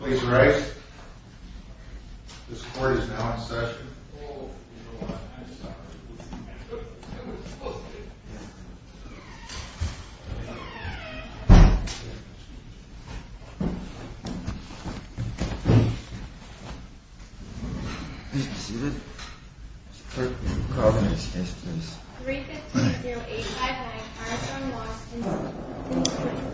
Please rise. This court is now in session. Please be seated. Clerk, will you call the next case, please? 315-0859, Armstrong, Washington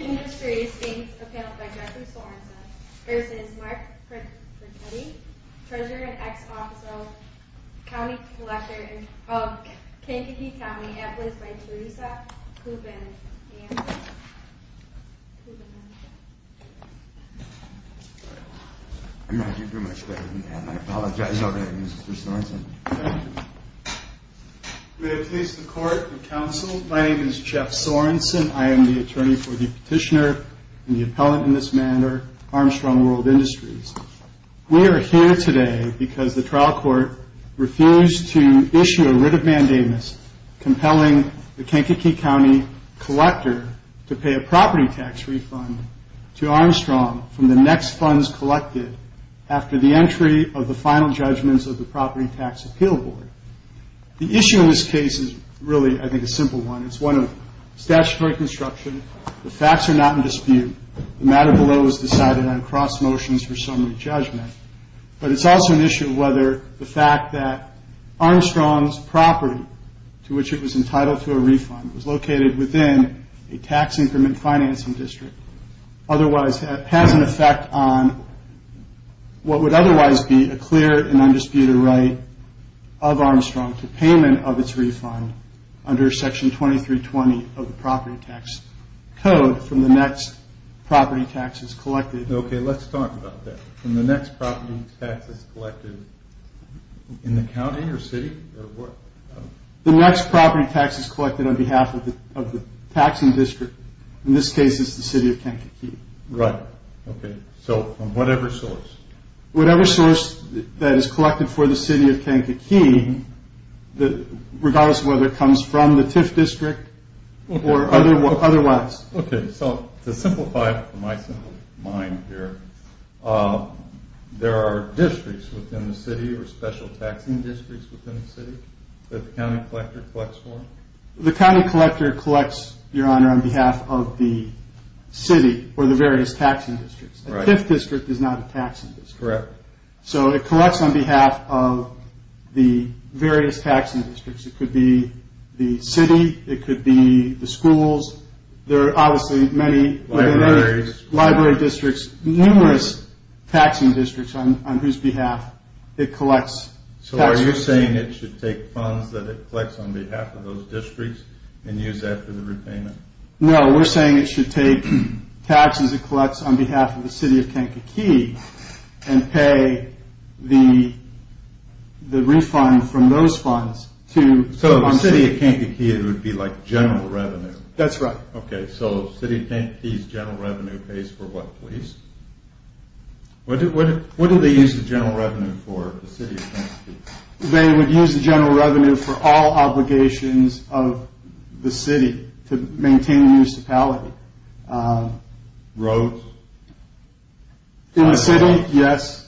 Industries, being appelled by Jeffrey Sorensen v. Mark Frechette, Treasurer and Ex-Officer, County Collector of Kankakee County, employed by Teresa Cooperman. Thank you very much, Devin, and I apologize already, Mr. Sorensen. May it please the Court and Counsel, my name is Jeff Sorensen. I am the attorney for the petitioner and the appellant in this matter, Armstrong World Industries. We are here today because the trial court refused to issue a writ of mandamus compelling the Kankakee County Collector to pay a property tax refund to Armstrong from the next funds collected after the entry of the final judgments of the Property Tax Appeal Board. The issue in this case is really, I think, a simple one. It's one of statutory construction, the facts are not in dispute, the matter below is decided on cross motions for summary judgment. But it's also an issue of whether the fact that Armstrong's property, to which it was entitled to a refund, was located within a tax increment financing district, otherwise has an effect on what would otherwise be a clear and undisputed right of Armstrong to payment of its refund under Section 2320 of the Property Tax Code from the next property taxes collected. Okay, let's talk about that. From the next property taxes collected in the county or city or what? The next property taxes collected on behalf of the taxing district, in this case it's the city of Kankakee. Right, okay, so from whatever source? Whatever source that is collected for the city of Kankakee, regardless of whether it comes from the TIF district or otherwise. Okay, so to simplify it for my simple mind here, there are districts within the city or special taxing districts within the city that the county collector collects for? The county collector collects, Your Honor, on behalf of the city or the various taxing districts. The TIF district is not a taxing district. Correct. So it collects on behalf of the various taxing districts, it could be the city, it could be the schools, there are obviously many libraries, library districts, numerous taxing districts on whose behalf it collects. So are you saying it should take funds that it collects on behalf of those districts and use that for the repayment? No, we're saying it should take taxes it collects on behalf of the city of Kankakee and pay the refund from those funds. So the city of Kankakee would be like general revenue? That's right. Okay, so the city of Kankakee's general revenue pays for what, please? What do they use the general revenue for, the city of Kankakee? They would use the general revenue for all obligations of the city to maintain the municipality. Roads? In the city, yes.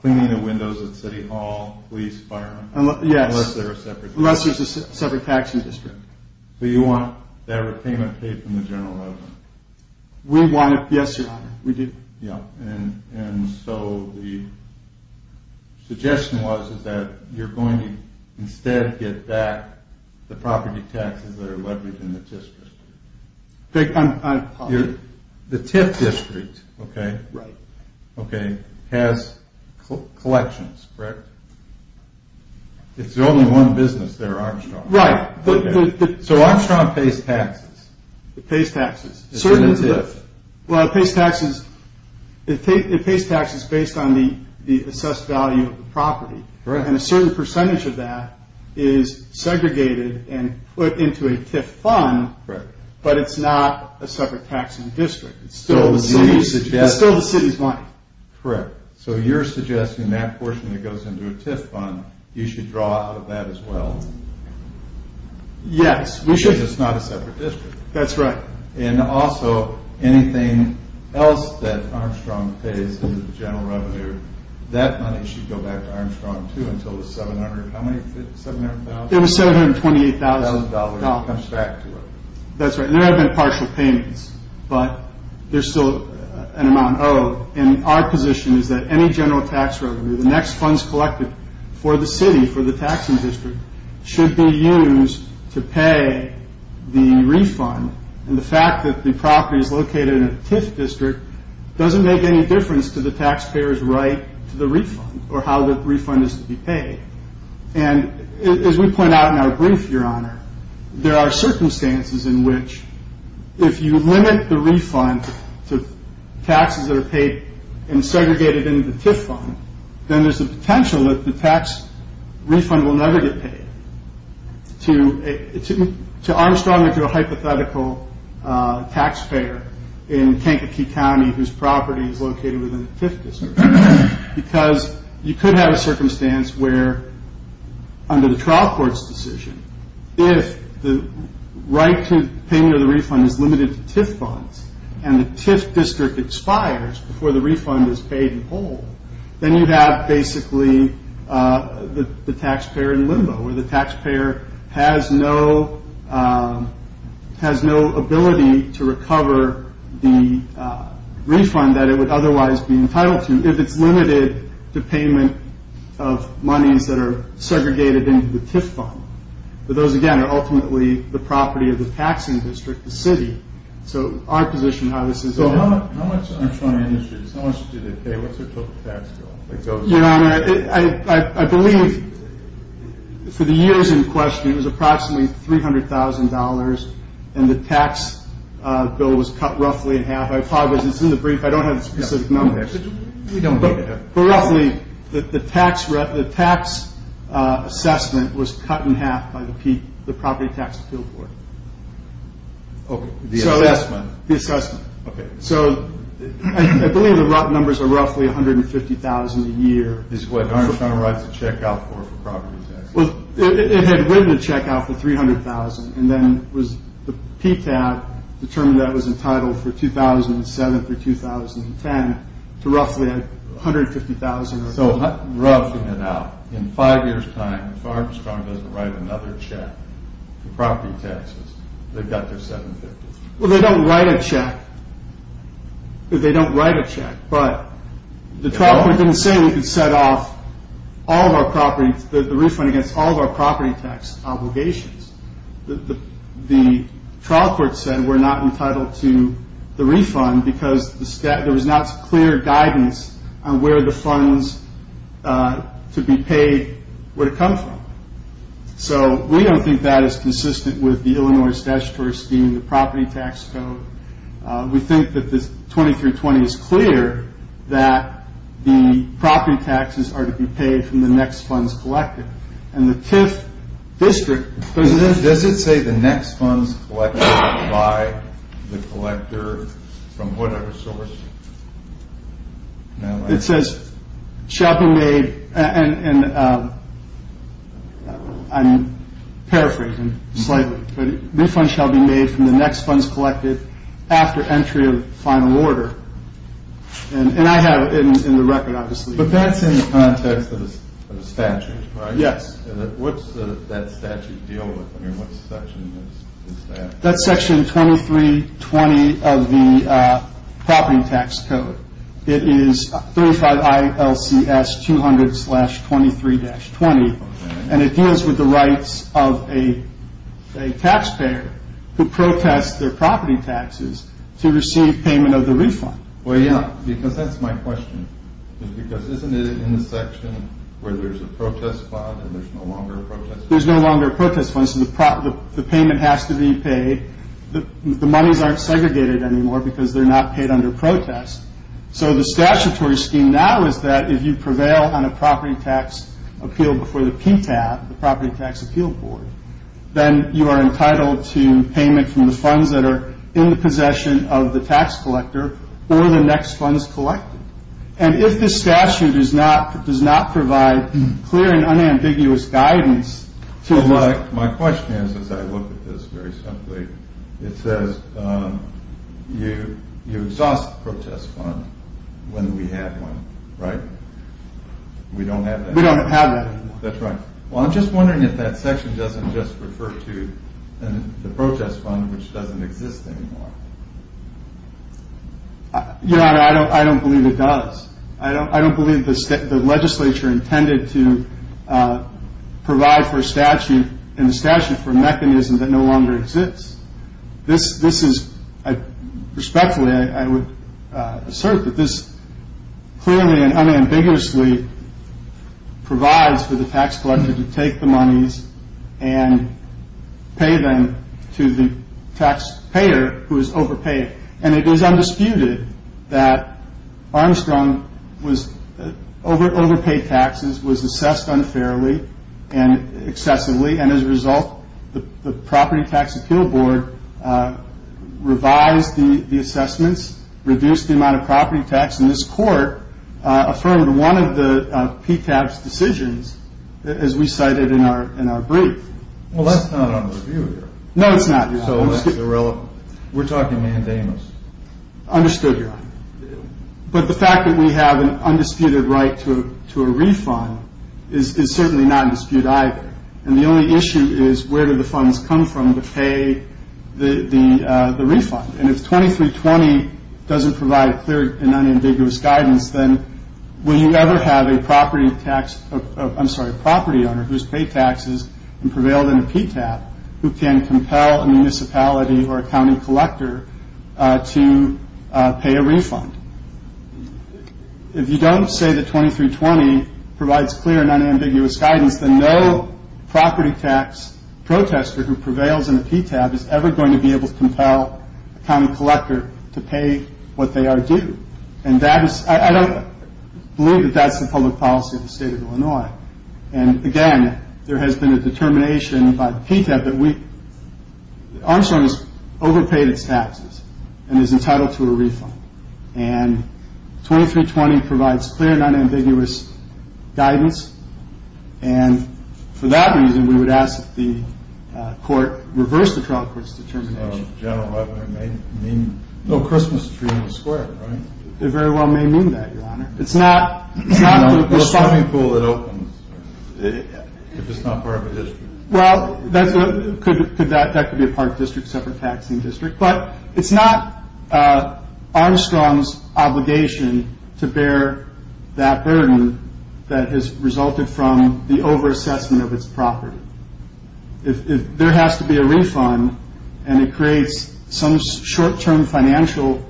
Cleaning the windows at City Hall, police, fire? Yes. Unless there's a separate taxing district. So you want that repayment paid from the general revenue? We want it, yes, Your Honor, we do. And so the suggestion was that you're going to instead get back the property taxes that are leveraged in the TIF district. The TIF district, okay, has collections, correct? It's only one business there, Armstrong. Right. So Armstrong pays taxes. It pays taxes. Well, it pays taxes based on the assessed value of the property. And a certain percentage of that is segregated and put into a TIF fund, but it's not a separate taxing district. It's still the city's money. Correct. So you're suggesting that portion that goes into a TIF fund, you should draw out of that as well? Yes, we should. Because it's not a separate district. That's right. And also, anything else that Armstrong pays in the general revenue, that money should go back to Armstrong, too, until the $700,000? It was $728,000. It comes back to it. That's right. And there have been partial payments, but there's still an amount owed. And our position is that any general tax revenue, the next funds collected for the city, for the taxing district, should be used to pay the refund. And the fact that the property is located in a TIF district doesn't make any difference to the taxpayer's right to the refund or how the refund is to be paid. And as we point out in our brief, Your Honor, there are circumstances in which if you limit the refund to taxes that are paid and segregated into the TIF fund, then there's a potential that the tax refund will never get paid to Armstrong or to a hypothetical taxpayer in Kankakee County, whose property is located within the TIF district. Because you could have a circumstance where, under the trial court's decision, if the right to payment of the refund is limited to TIF funds and the TIF district expires before the refund is paid in full, then you have basically the taxpayer in limbo, where the taxpayer has no ability to recover the refund that it would otherwise be entitled to if it's limited to payment of monies that are segregated into the TIF fund. But those, again, are ultimately the property of the taxing district, the city. So our position on how this is... How much Armstrong Industries, how much did they pay? What's their total tax bill? Your Honor, I believe, for the years in question, it was approximately $300,000, and the tax bill was cut roughly in half. I apologize, it's in the brief, I don't have the specific number. But roughly, the tax assessment was cut in half by the property tax appeal court. The assessment? The assessment. Okay. So I believe the numbers are roughly $150,000 a year. Is what Armstrong writes the check out for, for property tax? It had written the check out for $300,000, and then the PTAT determined that it was entitled for 2007 through 2010 to roughly $150,000. So roughing it out, in five years' time, if Armstrong doesn't write another check for property taxes, they've got their $750,000. Well, they don't write a check. They don't write a check, but the trial court didn't say we could set off all of our property, the refund against all of our property tax obligations. The trial court said we're not entitled to the refund because there was not clear guidance on where the funds to be paid would come from. So we don't think that is consistent with the Illinois statutory scheme, the property tax code. We think that the 20 through 20 is clear that the property taxes are to be paid from the next funds collected. And the TIF district- Does it say the next funds collected by the collector from whatever source? It says, shall be made, and I'm paraphrasing slightly, but refund shall be made from the next funds collected after entry of final order. And I have it in the record, obviously. But that's in the context of the statute, right? Yes. What's that statute deal with? I mean, what section is that? That's section 2320 of the property tax code. It is 35 ILCS 200-23-20, and it deals with the rights of a taxpayer who protests their property taxes to receive payment of the refund. Well, yeah, because that's my question. Because isn't it in the section where there's a protest fund and there's no longer a protest fund? There's no longer a protest fund, so the payment has to be paid. The monies aren't segregated anymore because they're not paid under protest. So the statutory scheme now is that if you prevail on a property tax appeal before the PTAB, the Property Tax Appeal Board, then you are entitled to payment from the funds that are in the possession of the tax collector or the next funds collected. And if the statute does not provide clear and unambiguous guidance. So my question is, as I look at this very simply, it says you exhaust the protest fund when we have one, right? We don't have that. We don't have that anymore. That's right. Well, I'm just wondering if that section doesn't just refer to the protest fund which doesn't exist anymore. Your Honor, I don't believe it does. I don't believe the legislature intended to provide for a statute and the statute for a mechanism that no longer exists. This is, respectfully, I would assert that this clearly and unambiguously provides for the tax collector to take the monies and pay them to the taxpayer who is overpaid. And it is undisputed that Armstrong overpaid taxes, was assessed unfairly and excessively. And as a result, the Property Tax Appeal Board revised the assessments, reduced the amount of property tax. And this court affirmed one of the PCAP's decisions as we cited in our brief. Well, that's not under review here. No, it's not. So that's irrelevant. We're talking mandamus. Understood, Your Honor. But the fact that we have an undisputed right to a refund is certainly not in dispute either. And the only issue is where do the funds come from to pay the refund? And if 2320 doesn't provide clear and unambiguous guidance, then will you ever have a property owner who has paid taxes and prevailed in a PCAP who can compel a municipality or a county collector to pay a refund? If you don't say that 2320 provides clear and unambiguous guidance, then no property tax protester who prevails in a PCAP is ever going to be able to compel a county collector to pay what they are due. And I don't believe that that's the public policy of the state of Illinois. And again, there has been a determination by the PCAP that Armstrong has overpaid its taxes and is entitled to a refund. And 2320 provides clear and unambiguous guidance. And for that reason, we would ask that the court reverse the trial court's determination. General Webner may mean a little Christmas tree in the square, right? It very well may mean that, Your Honor. It's not the shopping pool that opens if it's not part of a district. Well, that could be a part of a district, separate taxing district. But it's not Armstrong's obligation to bear that burden that has resulted from the over-assessment of its property. There has to be a refund, and it creates some short-term financial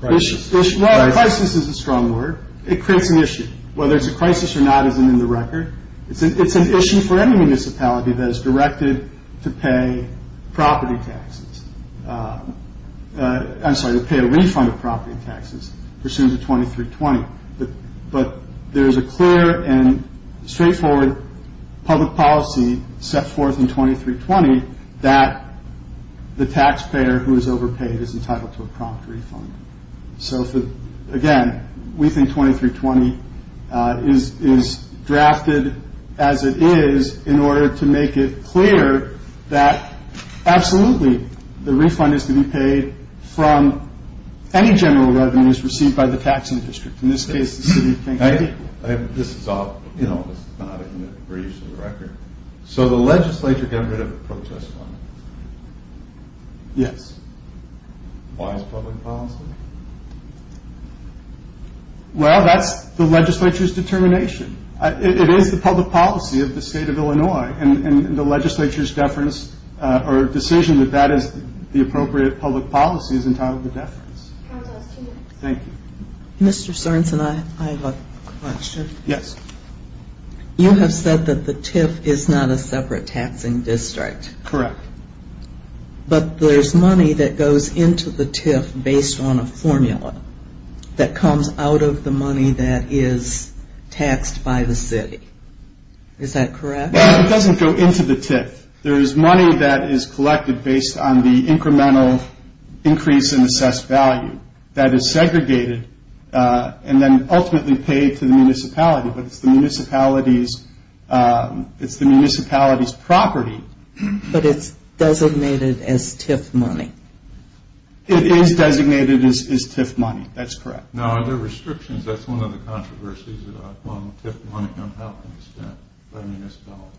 crisis. Crisis is a strong word. It creates an issue. Whether it's a crisis or not isn't in the record. It's an issue for any municipality that is directed to pay a refund of property taxes pursuant to 2320. But there is a clear and straightforward public policy set forth in 2320 that the taxpayer who is overpaid is entitled to a prompt refund. So, again, we think 2320 is drafted as it is in order to make it clear that absolutely the refund is to be paid from any general revenues received by the taxing district. In this case, the city of Kansas City. This is not in the briefs of the record. So the legislature got rid of the protest fund? Yes. Why is it public policy? Well, that's the legislature's determination. It is the public policy of the state of Illinois, and the legislature's decision that that is the appropriate public policy is entitled to deference. Thank you. Mr. Sorensen, I have a question. Yes. You have said that the TIF is not a separate taxing district. Correct. But there is money that goes into the TIF based on a formula that comes out of the money that is taxed by the city. Is that correct? It doesn't go into the TIF. There is money that is collected based on the incremental increase in assessed value that is segregated and then ultimately paid to the municipality. But it's the municipality's property. But it's designated as TIF money. It is designated as TIF money. That's correct. Now, are there restrictions? That's one of the controversies about how TIF money can be spent by the municipality.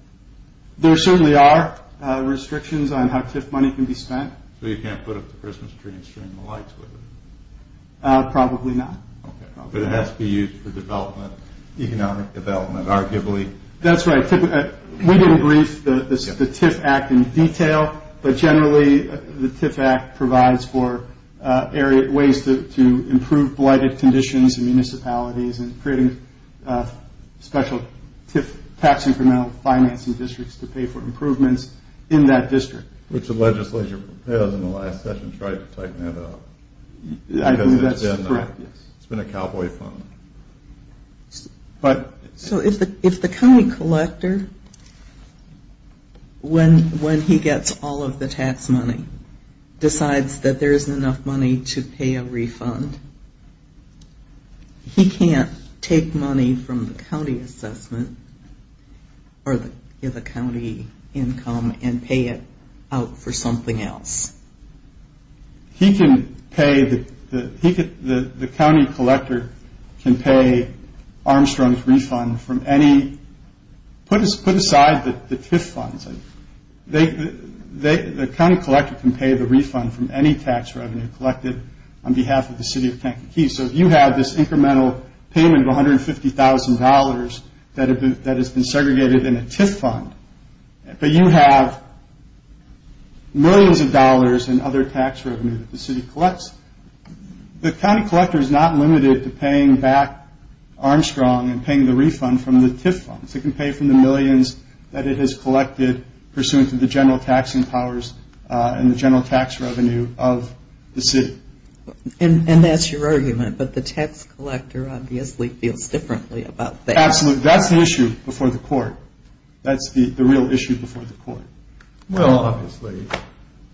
There certainly are restrictions on how TIF money can be spent. So you can't put up the Christmas tree and stream the lights with it? Probably not. Okay. But it has to be used for economic development, arguably. That's right. We didn't brief the TIF Act in detail, but generally the TIF Act provides for ways to improve blighted conditions in municipalities and creating special TIF tax incremental financing districts to pay for improvements in that district. Which the legislature has in the last session tried to tighten that up. I believe that's correct. It's been a cowboy fund. So if the county collector, when he gets all of the tax money, decides that there isn't enough money to pay a refund, he can't take money from the county assessment or the county income and pay it out for something else? He can pay, the county collector can pay Armstrong's refund from any, put aside the TIF funds. The county collector can pay the refund from any tax revenue collected on behalf of the city of Kankakee. So if you have this incremental payment of $150,000 that has been segregated in a TIF fund, but you have millions of dollars in other tax revenue that the city collects, the county collector is not limited to paying back Armstrong and paying the refund from the TIF funds. It can pay from the millions that it has collected pursuant to the general taxing powers and the general tax revenue of the city. And that's your argument, but the tax collector obviously feels differently about that. Absolutely. That's the issue before the court. That's the real issue before the court. Well, obviously,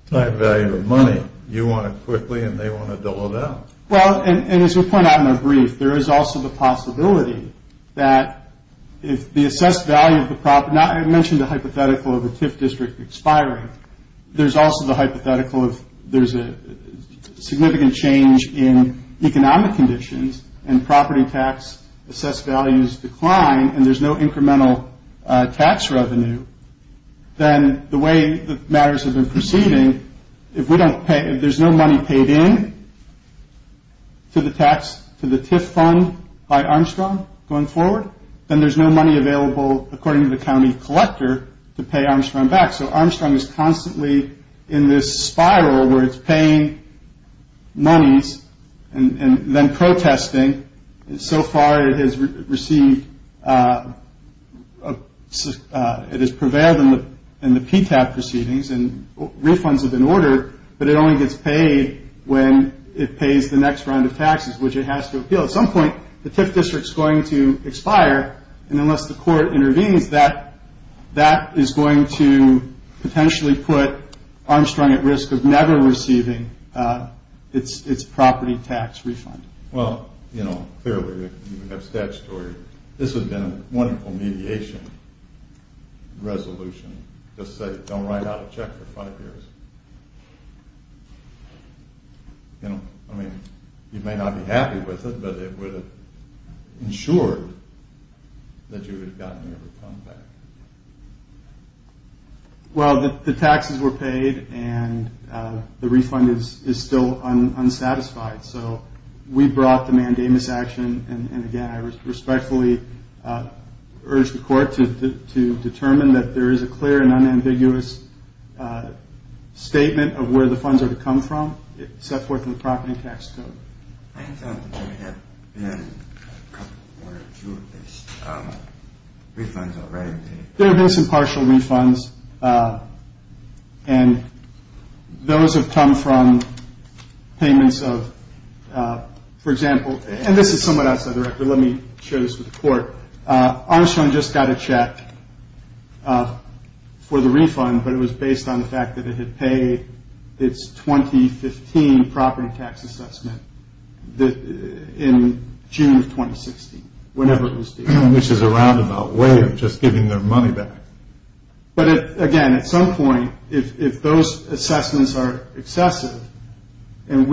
type value of money, you want it quickly and they want to double it up. Well, and as we point out in our brief, there is also the possibility that if the assessed value of the property, I mentioned the hypothetical of a TIF district expiring, there's also the hypothetical of there's a significant change in economic conditions and property tax assessed values decline and there's no incremental tax revenue, then the way that matters have been proceeding, if there's no money paid in to the TIF fund by Armstrong going forward, then there's no money available, according to the county collector, to pay Armstrong back. So Armstrong is constantly in this spiral where it's paying monies and then protesting. And so far it has received, it has prevailed in the PTAB proceedings and refunds have been ordered, but it only gets paid when it pays the next round of taxes, which it has to appeal. At some point, the TIF district is going to expire. And unless the court intervenes, that is going to potentially put Armstrong at risk of never receiving its property tax refund. Well, you know, clearly you have statutory, this would have been a wonderful mediation resolution, just say don't write out a check for five years. I mean, you may not be happy with it, but it would have ensured that you would have gotten your refund back. Well, the taxes were paid and the refund is still unsatisfied, so we brought the mandamus action and again, I respectfully urge the court to determine that there is a clear and unambiguous statement of where the funds are to come from, set forth in the property tax code. There have been some partial refunds and those have come from payments of, for example, and this is somewhat outside the record, let me share this with the court. Armstrong just got a check for the refund, but it was based on the fact that it had paid its 2015 property tax assessment in June of 2016, whenever it was due. Which is a roundabout way of just giving their money back. But again, at some point, if those assessments are excessive and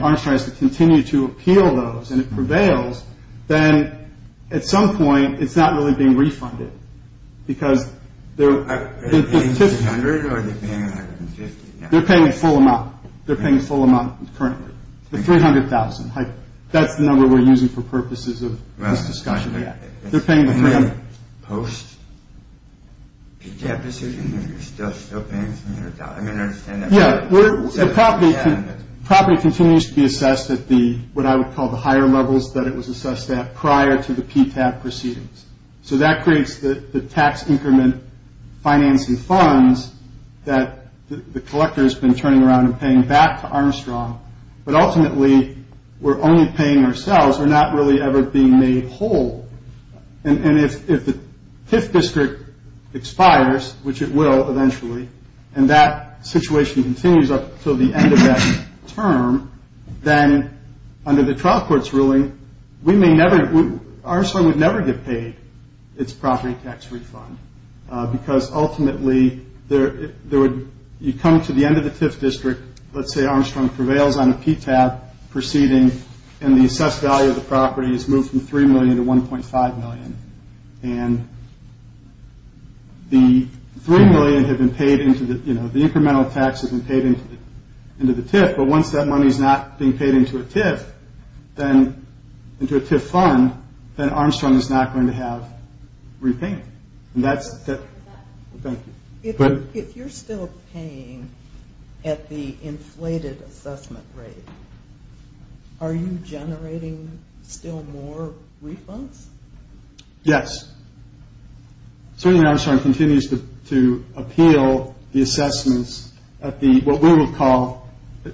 Armstrong has to continue to appeal those and it prevails, then at some point it's not really being refunded. Because they're paying a full amount. They're paying a full amount currently. The $300,000, that's the number we're using for purposes of this discussion. They're paying the full amount. Post PTAB decision, you're still paying $300,000? Yeah, the property continues to be assessed at what I would call the higher levels that it was assessed at prior to the PTAB proceedings. So that creates the tax increment financing funds that the collector has been turning around and paying back to Armstrong. But ultimately, we're only paying ourselves. We're not really ever being made whole. And if the TIF district expires, which it will eventually, and that situation continues up until the end of that term, then under the trial court's ruling, we may never, Armstrong would never get paid its property tax refund. Because ultimately, you come to the end of the TIF district, let's say Armstrong prevails on a PTAB proceeding, and the assessed value of the property is moved from $3 million to $1.5 million. And the $3 million, the incremental tax has been paid into the TIF, but once that money is not being paid into a TIF fund, then Armstrong is not going to have repayment. Thank you. If you're still paying at the inflated assessment rate, are you generating still more refunds? Yes. So Armstrong continues to appeal the assessments at what we would call,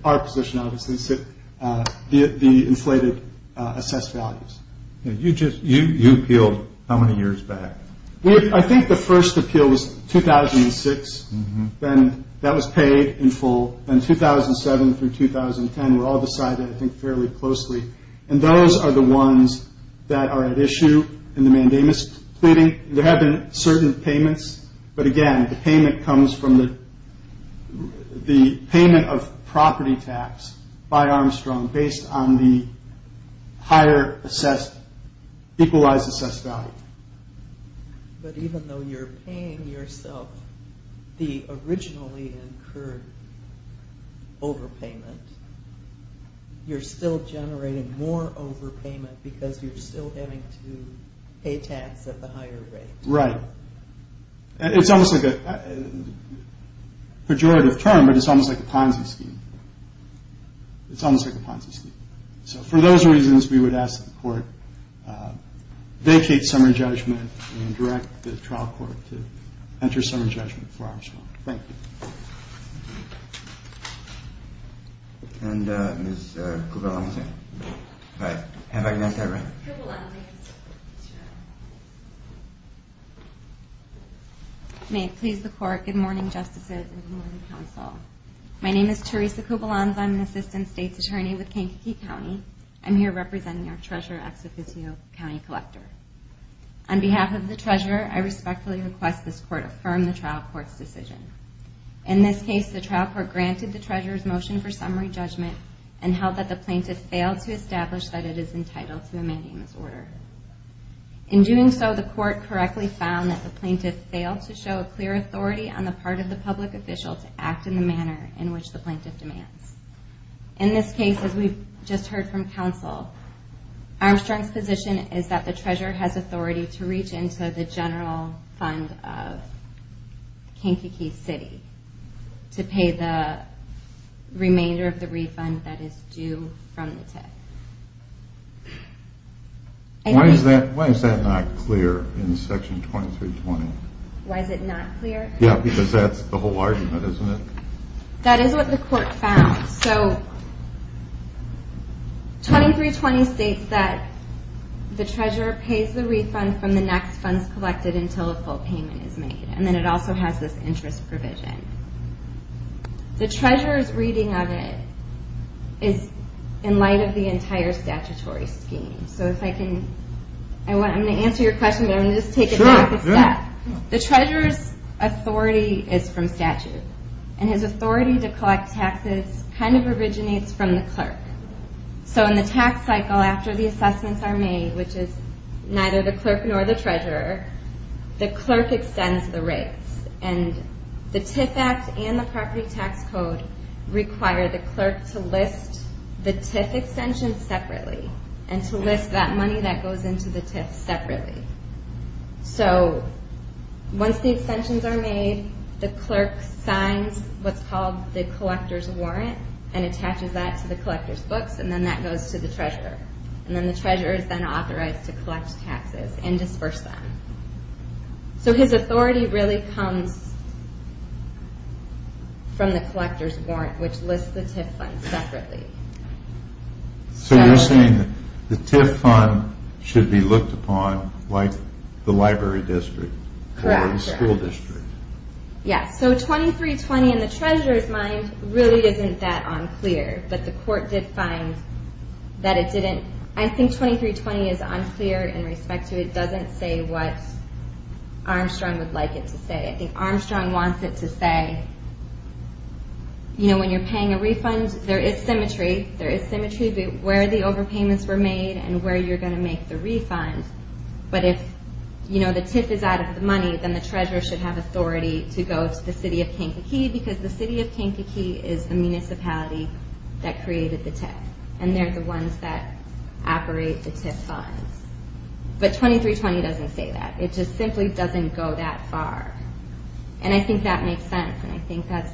our position obviously, the inflated assessed values. You appealed how many years back? I think the first appeal was 2006, then that was paid in full. Then 2007 through 2010 were all decided, I think, fairly closely. And those are the ones that are at issue in the mandamus pleading. There have been certain payments, but again, the payment comes from the payment of property tax by Armstrong based on the higher assessed, equalized assessed value. But even though you're paying yourself the originally incurred overpayment, you're still generating more overpayment because you're still having to pay tax at the higher rate. Right. It's almost like a pejorative term, but it's almost like a Ponzi scheme. It's almost like a Ponzi scheme. So for those reasons, we would ask that the court vacate summary judgment and direct the trial court to enter summary judgment for Armstrong. Thank you. And Ms. Kubelansi, have I got that right? Ms. Kubelansi. May it please the Court, good morning, Justices and good morning, Counsel. My name is Teresa Kubelansi. I'm an Assistant State's Attorney with Kankakee County. I'm here representing our Treasurer, Ex Officio County Collector. On behalf of the Treasurer, I respectfully request this Court affirm the trial court's decision. In this case, the trial court granted the Treasurer's motion for summary judgment and held that the plaintiff failed to establish that it is entitled to a mandamus order. In doing so, the Court correctly found that the plaintiff failed to show a clear authority on the part of the public official to act in the manner in which the plaintiff demands. In this case, as we've just heard from Counsel, Armstrong's position is that the Treasurer has authority to reach into the general fund of Kankakee City to pay the remainder of the refund that is due from the tip. Why is that not clear in Section 2320? Why is it not clear? Yeah, because that's the whole argument, isn't it? That is what the Court found. So 2320 states that the Treasurer pays the refund from the next funds collected until a full payment is made. And then it also has this interest provision. The Treasurer's reading of it is in light of the entire statutory scheme. So if I can, I'm going to answer your question, but I'm going to just take it back a step. The Treasurer's authority is from statute. And his authority to collect taxes kind of originates from the clerk. So in the tax cycle, after the assessments are made, which is neither the clerk nor the Treasurer, the clerk extends the rates. And the TIF Act and the Property Tax Code require the clerk to list the TIF extensions separately and to list that money that goes into the TIF separately. So once the extensions are made, the clerk signs what's called the collector's warrant and attaches that to the collector's books, and then that goes to the Treasurer. And then the Treasurer is then authorized to collect taxes and disperse them. So his authority really comes from the collector's warrant, which lists the TIF funds separately. So you're saying the TIF fund should be looked upon like the library district or the school district. Yes, so 2320 in the Treasurer's mind really isn't that unclear. But the court did find that it didn't – I think 2320 is unclear in respect to it doesn't say what Armstrong would like it to say. I think Armstrong wants it to say, you know, when you're paying a refund, there is symmetry. There is symmetry where the overpayments were made and where you're going to make the refund. But if, you know, the TIF is out of the money, then the Treasurer should have authority to go to the City of Kankakee because the City of Kankakee is the municipality that created the TIF, and they're the ones that operate the TIF funds. But 2320 doesn't say that. It just simply doesn't go that far. And I think that makes sense, and I think that's,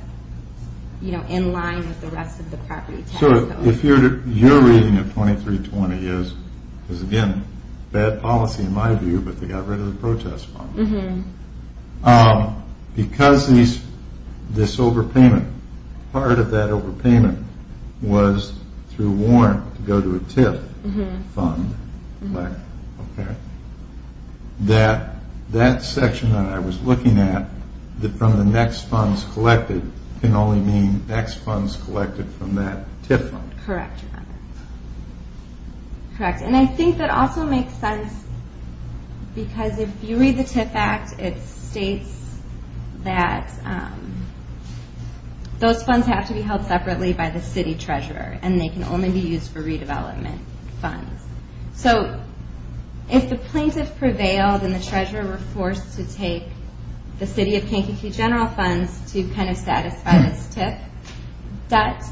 you know, in line with the rest of the property tax code. So if you're reading that 2320 is, again, bad policy in my view, but they got rid of the protest fund. Because this overpayment, part of that overpayment was through warrant to go to a TIF fund, that section that I was looking at from the next funds collected can only mean next funds collected from that TIF fund. Correct. And I think that also makes sense because if you read the TIF Act, it states that those funds have to be held separately by the City Treasurer, and they can only be used for redevelopment funds. So if the plaintiff prevailed and the Treasurer were forced to take the City of Kankakee general funds to kind of satisfy this TIF debt,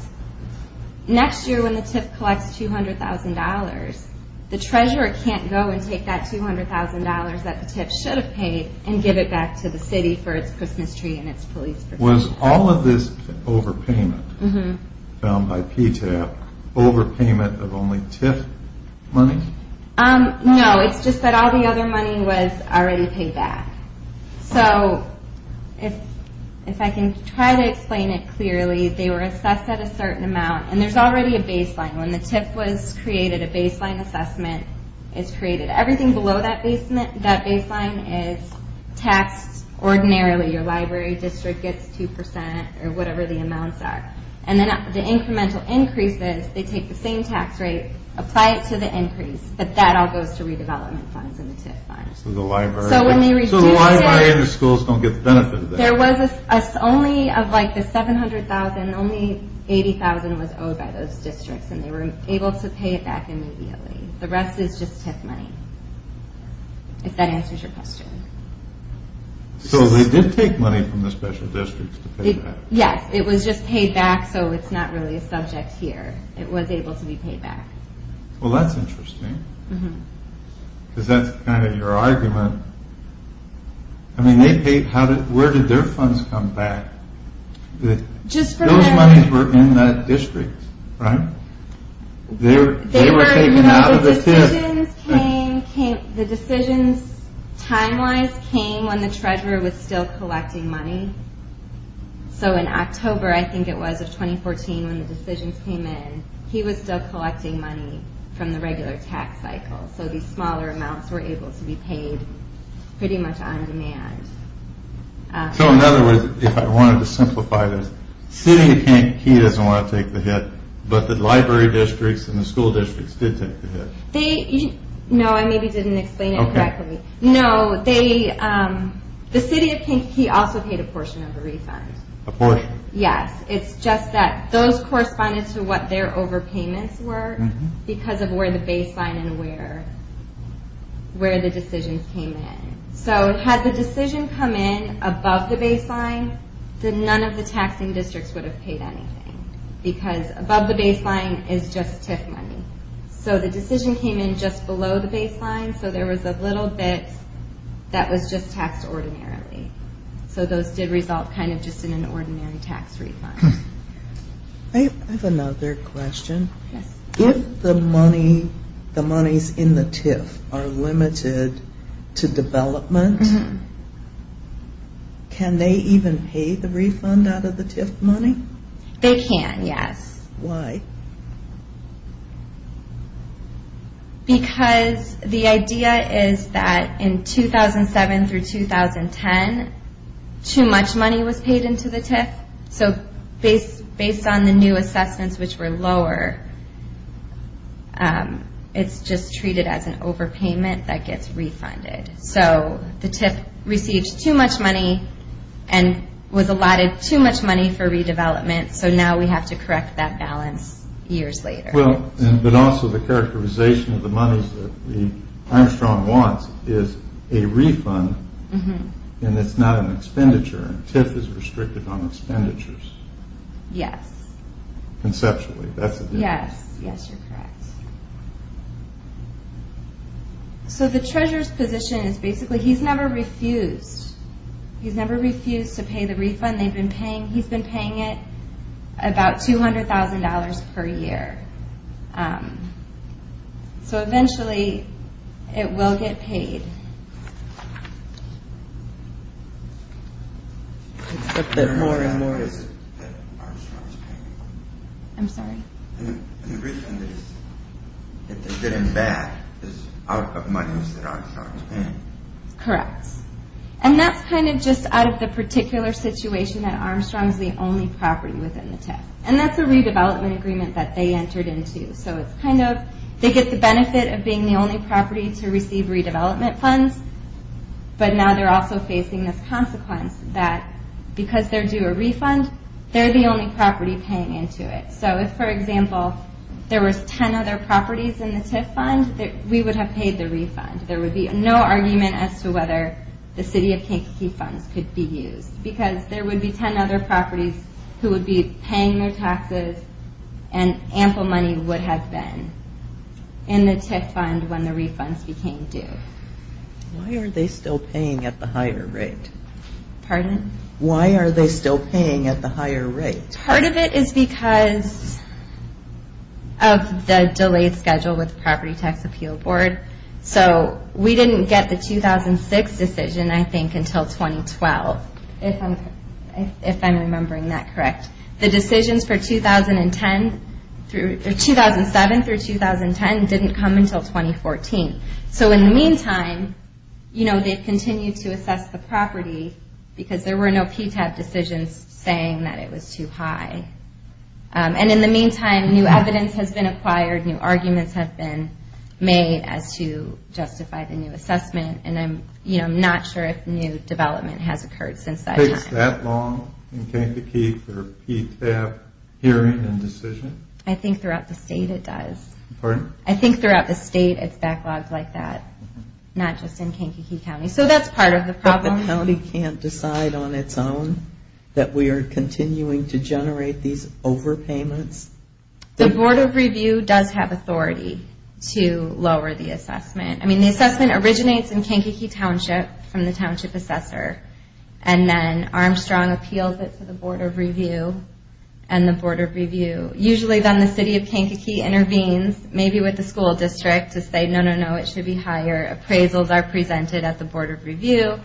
next year when the TIF collects $200,000, the Treasurer can't go and take that $200,000 that the TIF should have paid and give it back to the City for its Christmas tree and its police pursuit fund. Was all of this overpayment found by PTAP overpayment of only TIF money? No, it's just that all the other money was already paid back. So if I can try to explain it clearly, they were assessed at a certain amount, and there's already a baseline. When the TIF was created, a baseline assessment is created. Everything below that baseline is taxed ordinarily. Your library district gets 2% or whatever the amounts are. And then the incremental increases, they take the same tax rate, apply it to the increase, but that all goes to redevelopment funds and the TIF funds. So the library and the schools don't get the benefit of that? There was only of the $700,000, only $80,000 was owed by those districts, and they were able to pay it back immediately. The rest is just TIF money, if that answers your question. So they did take money from the special districts to pay back? Yes, it was just paid back, so it's not really a subject here. It was able to be paid back. Well, that's interesting, because that's kind of your argument. I mean, where did their funds come back? Those monies were in that district, right? They were taken out of the TIF. The decisions, time-wise, came when the treasurer was still collecting money. So in October, I think it was, of 2014, when the decisions came in, he was still collecting money from the regular tax cycle. So these smaller amounts were able to be paid pretty much on demand. So in other words, if I wanted to simplify this, City of Kankakee doesn't want to take the hit, but the library districts and the school districts did take the hit? No, I maybe didn't explain it correctly. No, the City of Kankakee also paid a portion of the refund. A portion? Yes, it's just that those corresponded to what their overpayments were, because of where the baseline and where the decisions came in. So had the decision come in above the baseline, then none of the taxing districts would have paid anything, because above the baseline is just TIF money. So the decision came in just below the baseline, so there was a little bit that was just taxed ordinarily. So those did result kind of just in an ordinary tax refund. I have another question. If the monies in the TIF are limited to development, can they even pay the refund out of the TIF money? They can, yes. Why? Because the idea is that in 2007 through 2010, too much money was paid into the TIF. So based on the new assessments, which were lower, it's just treated as an overpayment that gets refunded. So the TIF received too much money and was allotted too much money for redevelopment, so now we have to correct that balance years later. But also the characterization of the monies that Armstrong wants is a refund, and it's not an expenditure. TIF is restricted on expenditures. Yes. Conceptually, that's a difference. Yes, yes, you're correct. So the treasurer's position is basically he's never refused. He's never refused to pay the refund they've been paying. He's been paying it about $200,000 per year. So eventually it will get paid. But the more and more is that Armstrong's paying. I'm sorry? And the reason that they're getting back is out of monies that Armstrong's paying. Correct. And that's kind of just out of the particular situation that Armstrong's the only property within the TIF. And that's a redevelopment agreement that they entered into. So they get the benefit of being the only property to receive redevelopment funds, but now they're also facing this consequence that because they're due a refund, they're the only property paying into it. So if, for example, there were 10 other properties in the TIF fund, we would have paid the refund. There would be no argument as to whether the City of Kankakee funds could be used because there would be 10 other properties who would be paying their taxes and ample money would have been in the TIF fund when the refunds became due. Why are they still paying at the higher rate? Pardon? Why are they still paying at the higher rate? Part of it is because of the delayed schedule with the Property Tax Appeal Board. We didn't get the 2006 decision, I think, until 2012, if I'm remembering that correct. The decisions for 2007 through 2010 didn't come until 2014. So in the meantime, they've continued to assess the property because there were no PTAB decisions saying that it was too high. And in the meantime, new evidence has been acquired, new arguments have been made as to justify the new assessment, and I'm not sure if new development has occurred since that time. Takes that long in Kankakee for a PTAB hearing and decision? I think throughout the state it does. Pardon? I think throughout the state it's backlogged like that, not just in Kankakee County. So that's part of the problem. But the county can't decide on its own that we are continuing to generate these overpayments? The Board of Review does have authority to lower the assessment. I mean, the assessment originates in Kankakee Township from the Township Assessor, and then Armstrong appeals it to the Board of Review, and the Board of Review, usually then the City of Kankakee intervenes, maybe with the school district, to say, no, no, no, it should be higher. Appraisals are presented at the Board of Review,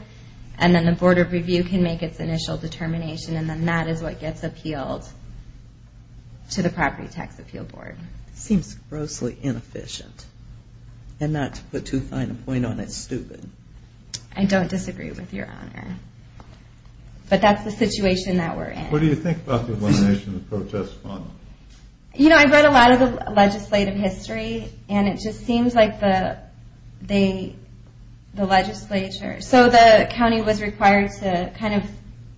and then the Board of Review can make its initial determination, and then that is what gets appealed to the Property Tax Appeal Board. Seems grossly inefficient. And not to put too fine a point on it, stupid. I don't disagree with Your Honor. But that's the situation that we're in. What do you think about the elimination of the protest fund? You know, I've read a lot of the legislative history, and it just seems like the legislature, so the county was required to kind of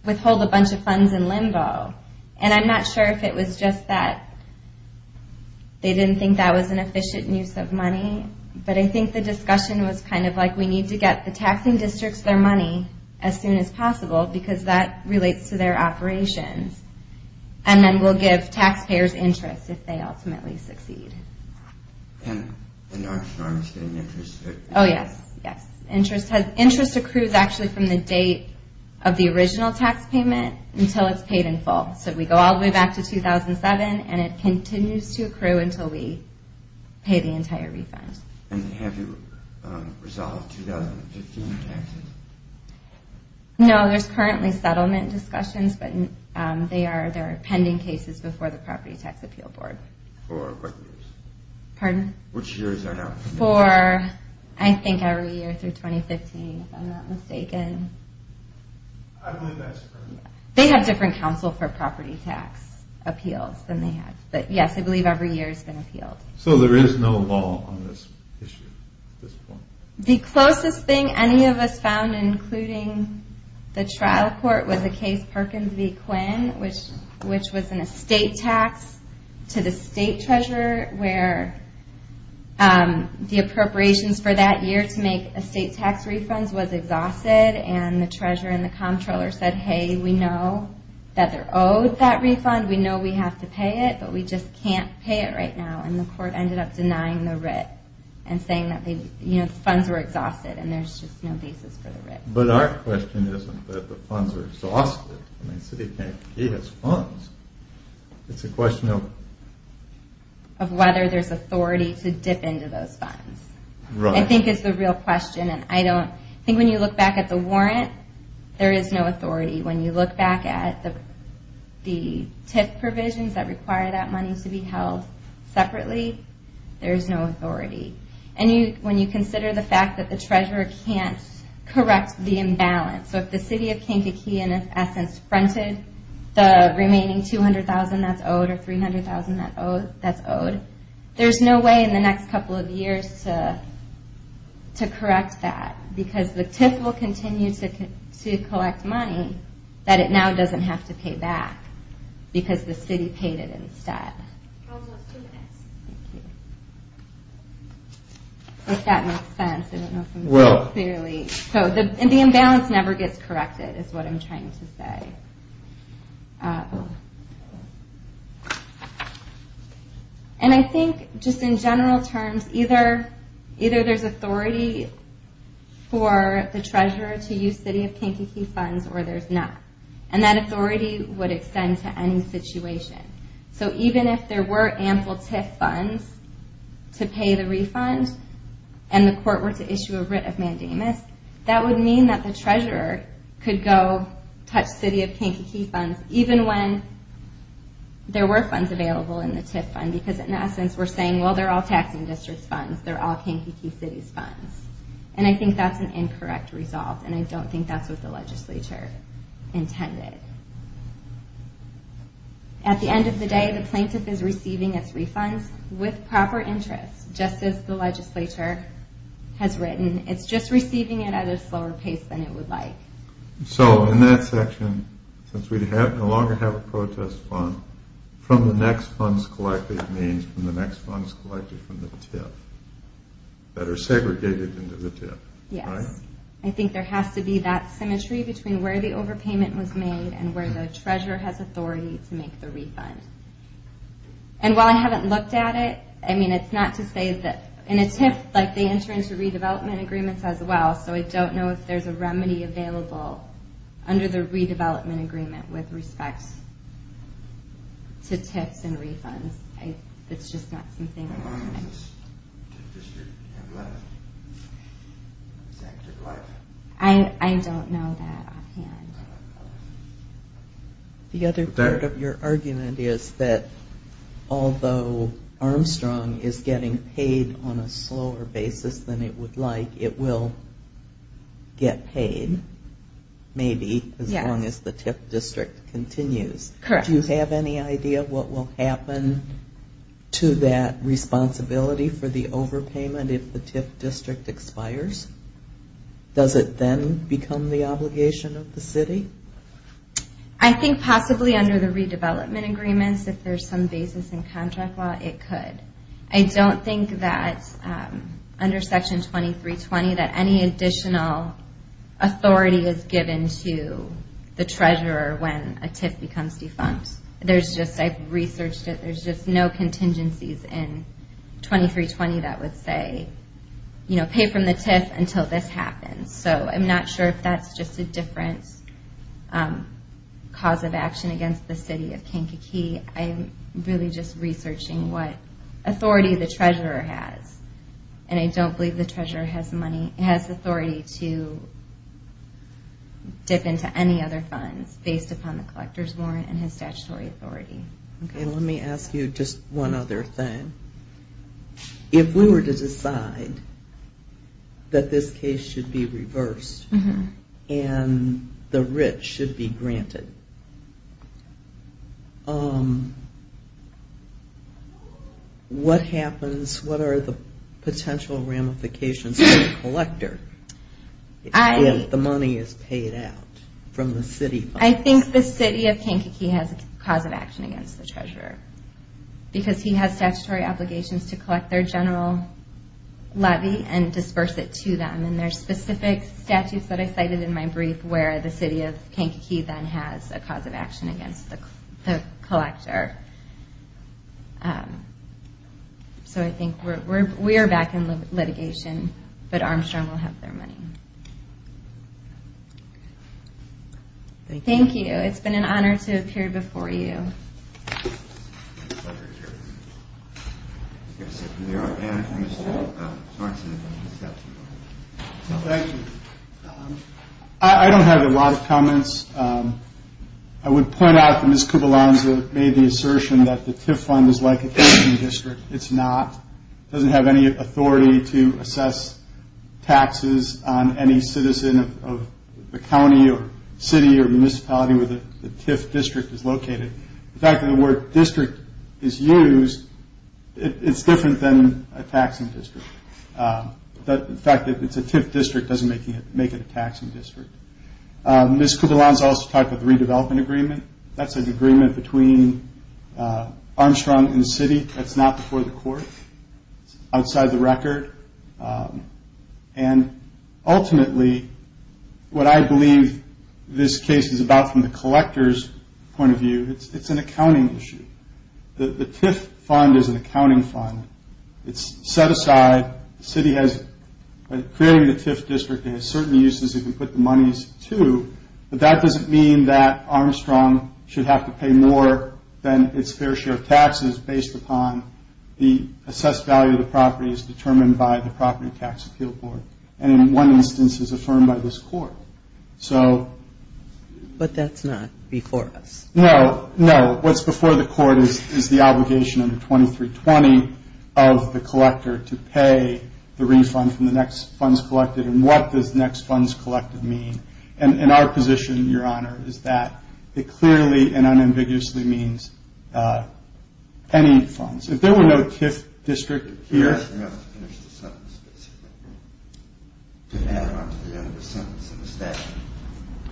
withhold a bunch of funds in limbo, and I'm not sure if it was just that they didn't think that was an efficient use of money, but I think the discussion was kind of like, we need to get the taxing districts their money as soon as possible, because that relates to their operations, and then we'll give taxpayers interest if they ultimately succeed. And Armstrong is getting interest? Oh, yes, yes. Interest accrues actually from the date of the original tax payment until it's paid in full. So we go all the way back to 2007, and it continues to accrue until we pay the entire refund. And have you resolved 2015 taxes? No, there's currently settlement discussions, but there are pending cases before the Property Tax Appeal Board. For what years? Pardon? Which years are now? For, I think, every year through 2015, if I'm not mistaken. I believe that's correct. They have different counsel for property tax appeals than they have, but yes, I believe every year it's been appealed. So there is no law on this issue at this point? The closest thing any of us found, including the trial court, was the case Perkins v. Quinn, which was an estate tax to the state treasurer where the appropriations for that year to make estate tax refunds was exhausted, and the treasurer and the comptroller said, hey, we know that they're owed that refund, we know we have to pay it, but we just can't pay it right now. And the court ended up denying the writ and saying that the funds were exhausted and there's just no basis for the writ. But our question isn't that the funds are exhausted. I mean, the city of Kankakee has funds. It's a question of... Of whether there's authority to dip into those funds. Right. I think is the real question, and I don't... I think when you look back at the warrant, there is no authority. When you look back at the TIF provisions that require that money to be held separately, there is no authority. And when you consider the fact that the treasurer can't correct the imbalance, so if the city of Kankakee, in its essence, fronted the remaining $200,000 that's owed or $300,000 that's owed, there's no way in the next couple of years to correct that because the TIF will continue to collect money that it now doesn't have to pay back because the city paid it instead. Almost two minutes. Thank you. If that makes sense. I don't know if I'm... Well... The imbalance never gets corrected, is what I'm trying to say. And I think, just in general terms, either there's authority for the treasurer to use city of Kankakee funds or there's not. And that authority would extend to any situation. So even if there were ample TIF funds to pay the refund and the court were to issue a writ of mandamus, that would mean that the treasurer could go touch city of Kankakee funds even when there were funds available in the TIF fund because, in essence, we're saying, well, they're all taxing district's funds, they're all Kankakee city's funds. And I think that's an incorrect result and I don't think that's what the legislature intended. At the end of the day, the plaintiff is receiving its refunds with proper interest, just as the legislature has written. It's just receiving it at a slower pace than it would like. So, in that section, since we no longer have a protest fund, from the next funds collected means from the next funds collected from the TIF that are segregated into the TIF, right? Yes. I think there has to be that symmetry between where the overpayment was made and where the treasurer has authority to make the refund. And while I haven't looked at it, I mean, it's not to say that in a TIF, like, they enter into redevelopment agreements as well, so I don't know if there's a remedy available under the redevelopment agreement with respect to TIFs and refunds. It's just not something that I... How long does this TIF district have left its active life? I don't know that offhand. The other part of your argument is that although Armstrong is getting paid on a slower basis than it would like, it will get paid, maybe, as long as the TIF district continues. Correct. Do you have any idea what will happen to that responsibility for the overpayment if the TIF district expires? Does it then become the obligation of the city? I think possibly under the redevelopment agreements, if there's some basis in contract law, it could. I don't think that under Section 2320 that any additional authority is given to the treasurer when a TIF becomes defunct. I've researched it. There's just no contingencies in 2320 that would say, pay from the TIF until this happens. So I'm not sure if that's just a different cause of action against the city of Kankakee. I'm really just researching what authority the treasurer has, and I don't believe the treasurer has authority to dip into any other funds based upon the collector's warrant and his statutory authority. Let me ask you just one other thing. If we were to decide that this case should be reversed and the rich should be granted, what happens? What are the potential ramifications to the collector if the money is paid out from the city? I think the city of Kankakee has a cause of action against the treasurer because he has statutory obligations to collect their general levy and disperse it to them. And there's specific statutes that I cited in my brief where the city of Kankakee then has a cause of action against the collector. So I think we are back in litigation, but Armstrong will have their money. Thank you. It's been an honor to appear before you. It's a pleasure to hear from you. Thank you. I don't have a lot of comments. I would point out that Ms. Kubalanza made the assertion that the TIF fund is like a taxing district. It's not. It doesn't have any authority to assess taxes on any citizen of the county or city or municipality where the TIF district is located. The fact that the word district is used, it's different than a taxing district. The fact that it's a TIF district doesn't make it a taxing district. Ms. Kubalanza also talked about the redevelopment agreement. That's an agreement between Armstrong and the city. That's not before the court. It's outside the record. And ultimately, what I believe this case is about from the collector's point of view, it's an accounting issue. The TIF fund is an accounting fund. It's set aside. The city has, by creating the TIF district, it has certain uses it can put the monies to, but that doesn't mean that Armstrong should have to pay more than its fair share of taxes based upon the assessed value of the property is determined by the Property Tax Appeal Board, and in one instance is affirmed by this court. But that's not before us. No, no. What's before the court is the obligation under 2320 of the collector to pay the refund from the next funds collected. And what does next funds collected mean? And our position, Your Honor, is that it clearly and unambiguously means any funds. If there were no TIF district here.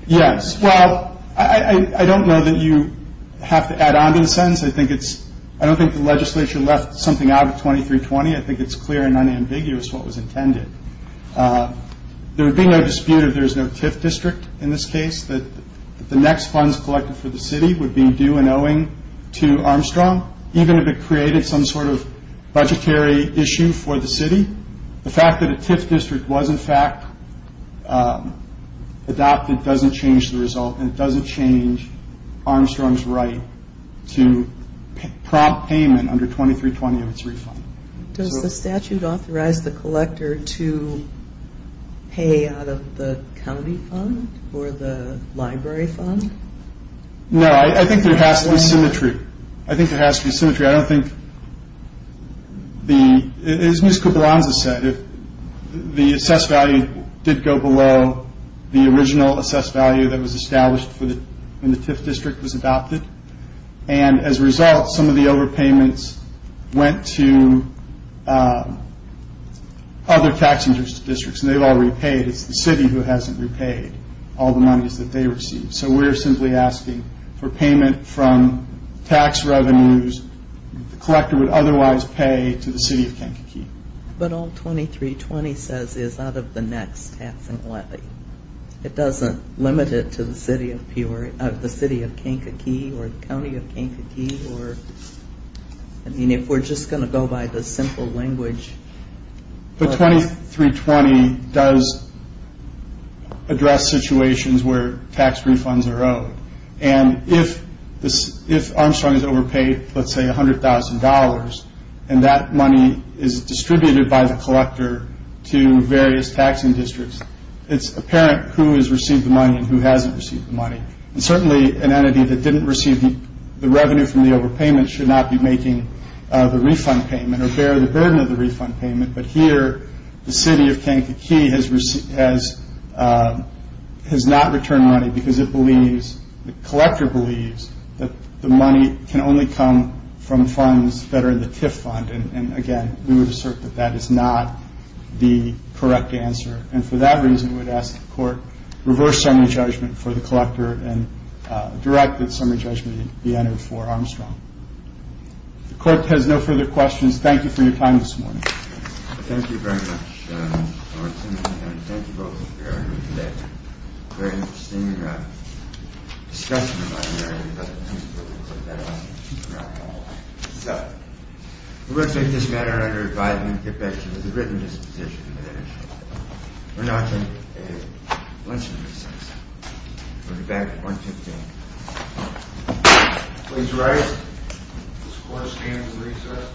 Yes, well, I don't know that you have to add on to the sentence. I don't think the legislature left something out of 2320. I think it's clear and unambiguous what was intended. There would be no dispute if there's no TIF district in this case, that the next funds collected for the city would be due and owing to Armstrong, even if it created some sort of budgetary issue for the city. The fact that a TIF district was, in fact, adopted doesn't change the result, and it doesn't change Armstrong's right to prompt payment under 2320 of its refund. Does the statute authorize the collector to pay out of the county fund or the library fund? No. I think there has to be symmetry. I think there has to be symmetry. I don't think the, as Ms. Koblanza said, if the assessed value did go below the original assessed value that was established when the TIF district was adopted, and as a result, some of the overpayments went to other tax interest districts, and they've all repaid. It's the city who hasn't repaid all the monies that they received. So we're simply asking for payment from tax revenues the collector would otherwise pay to the city of Kankakee. But all 2320 says is out of the next taxing levy. It doesn't limit it to the city of Kankakee or the county of Kankakee? I mean, if we're just going to go by the simple language. The 2320 does address situations where tax refunds are owed, and if Armstrong is overpaid, let's say $100,000, and that money is distributed by the collector to various taxing districts, it's apparent who has received the money and who hasn't received the money. And certainly an entity that didn't receive the revenue from the overpayment should not be making the refund payment or bear the burden of the refund payment, but here the city of Kankakee has not returned money because it believes, the collector believes, that the money can only come from funds that are in the TIF fund, and again, we would assert that that is not the correct answer. And for that reason, we would ask the court to reverse summary judgment for the collector and direct that summary judgment be entered for Armstrong. If the court has no further questions, thank you for your time this morning. Thank you very much, Lawrence, and thank you both for being here today. Very interesting discussion in my area, but I think we'll leave it at that. So, we're going to take this matter under a five-minute tip edge with a written disposition to finish. We're now going to take a luncheon recess. We'll be back at 1.15. Please rise. This court stands recessed.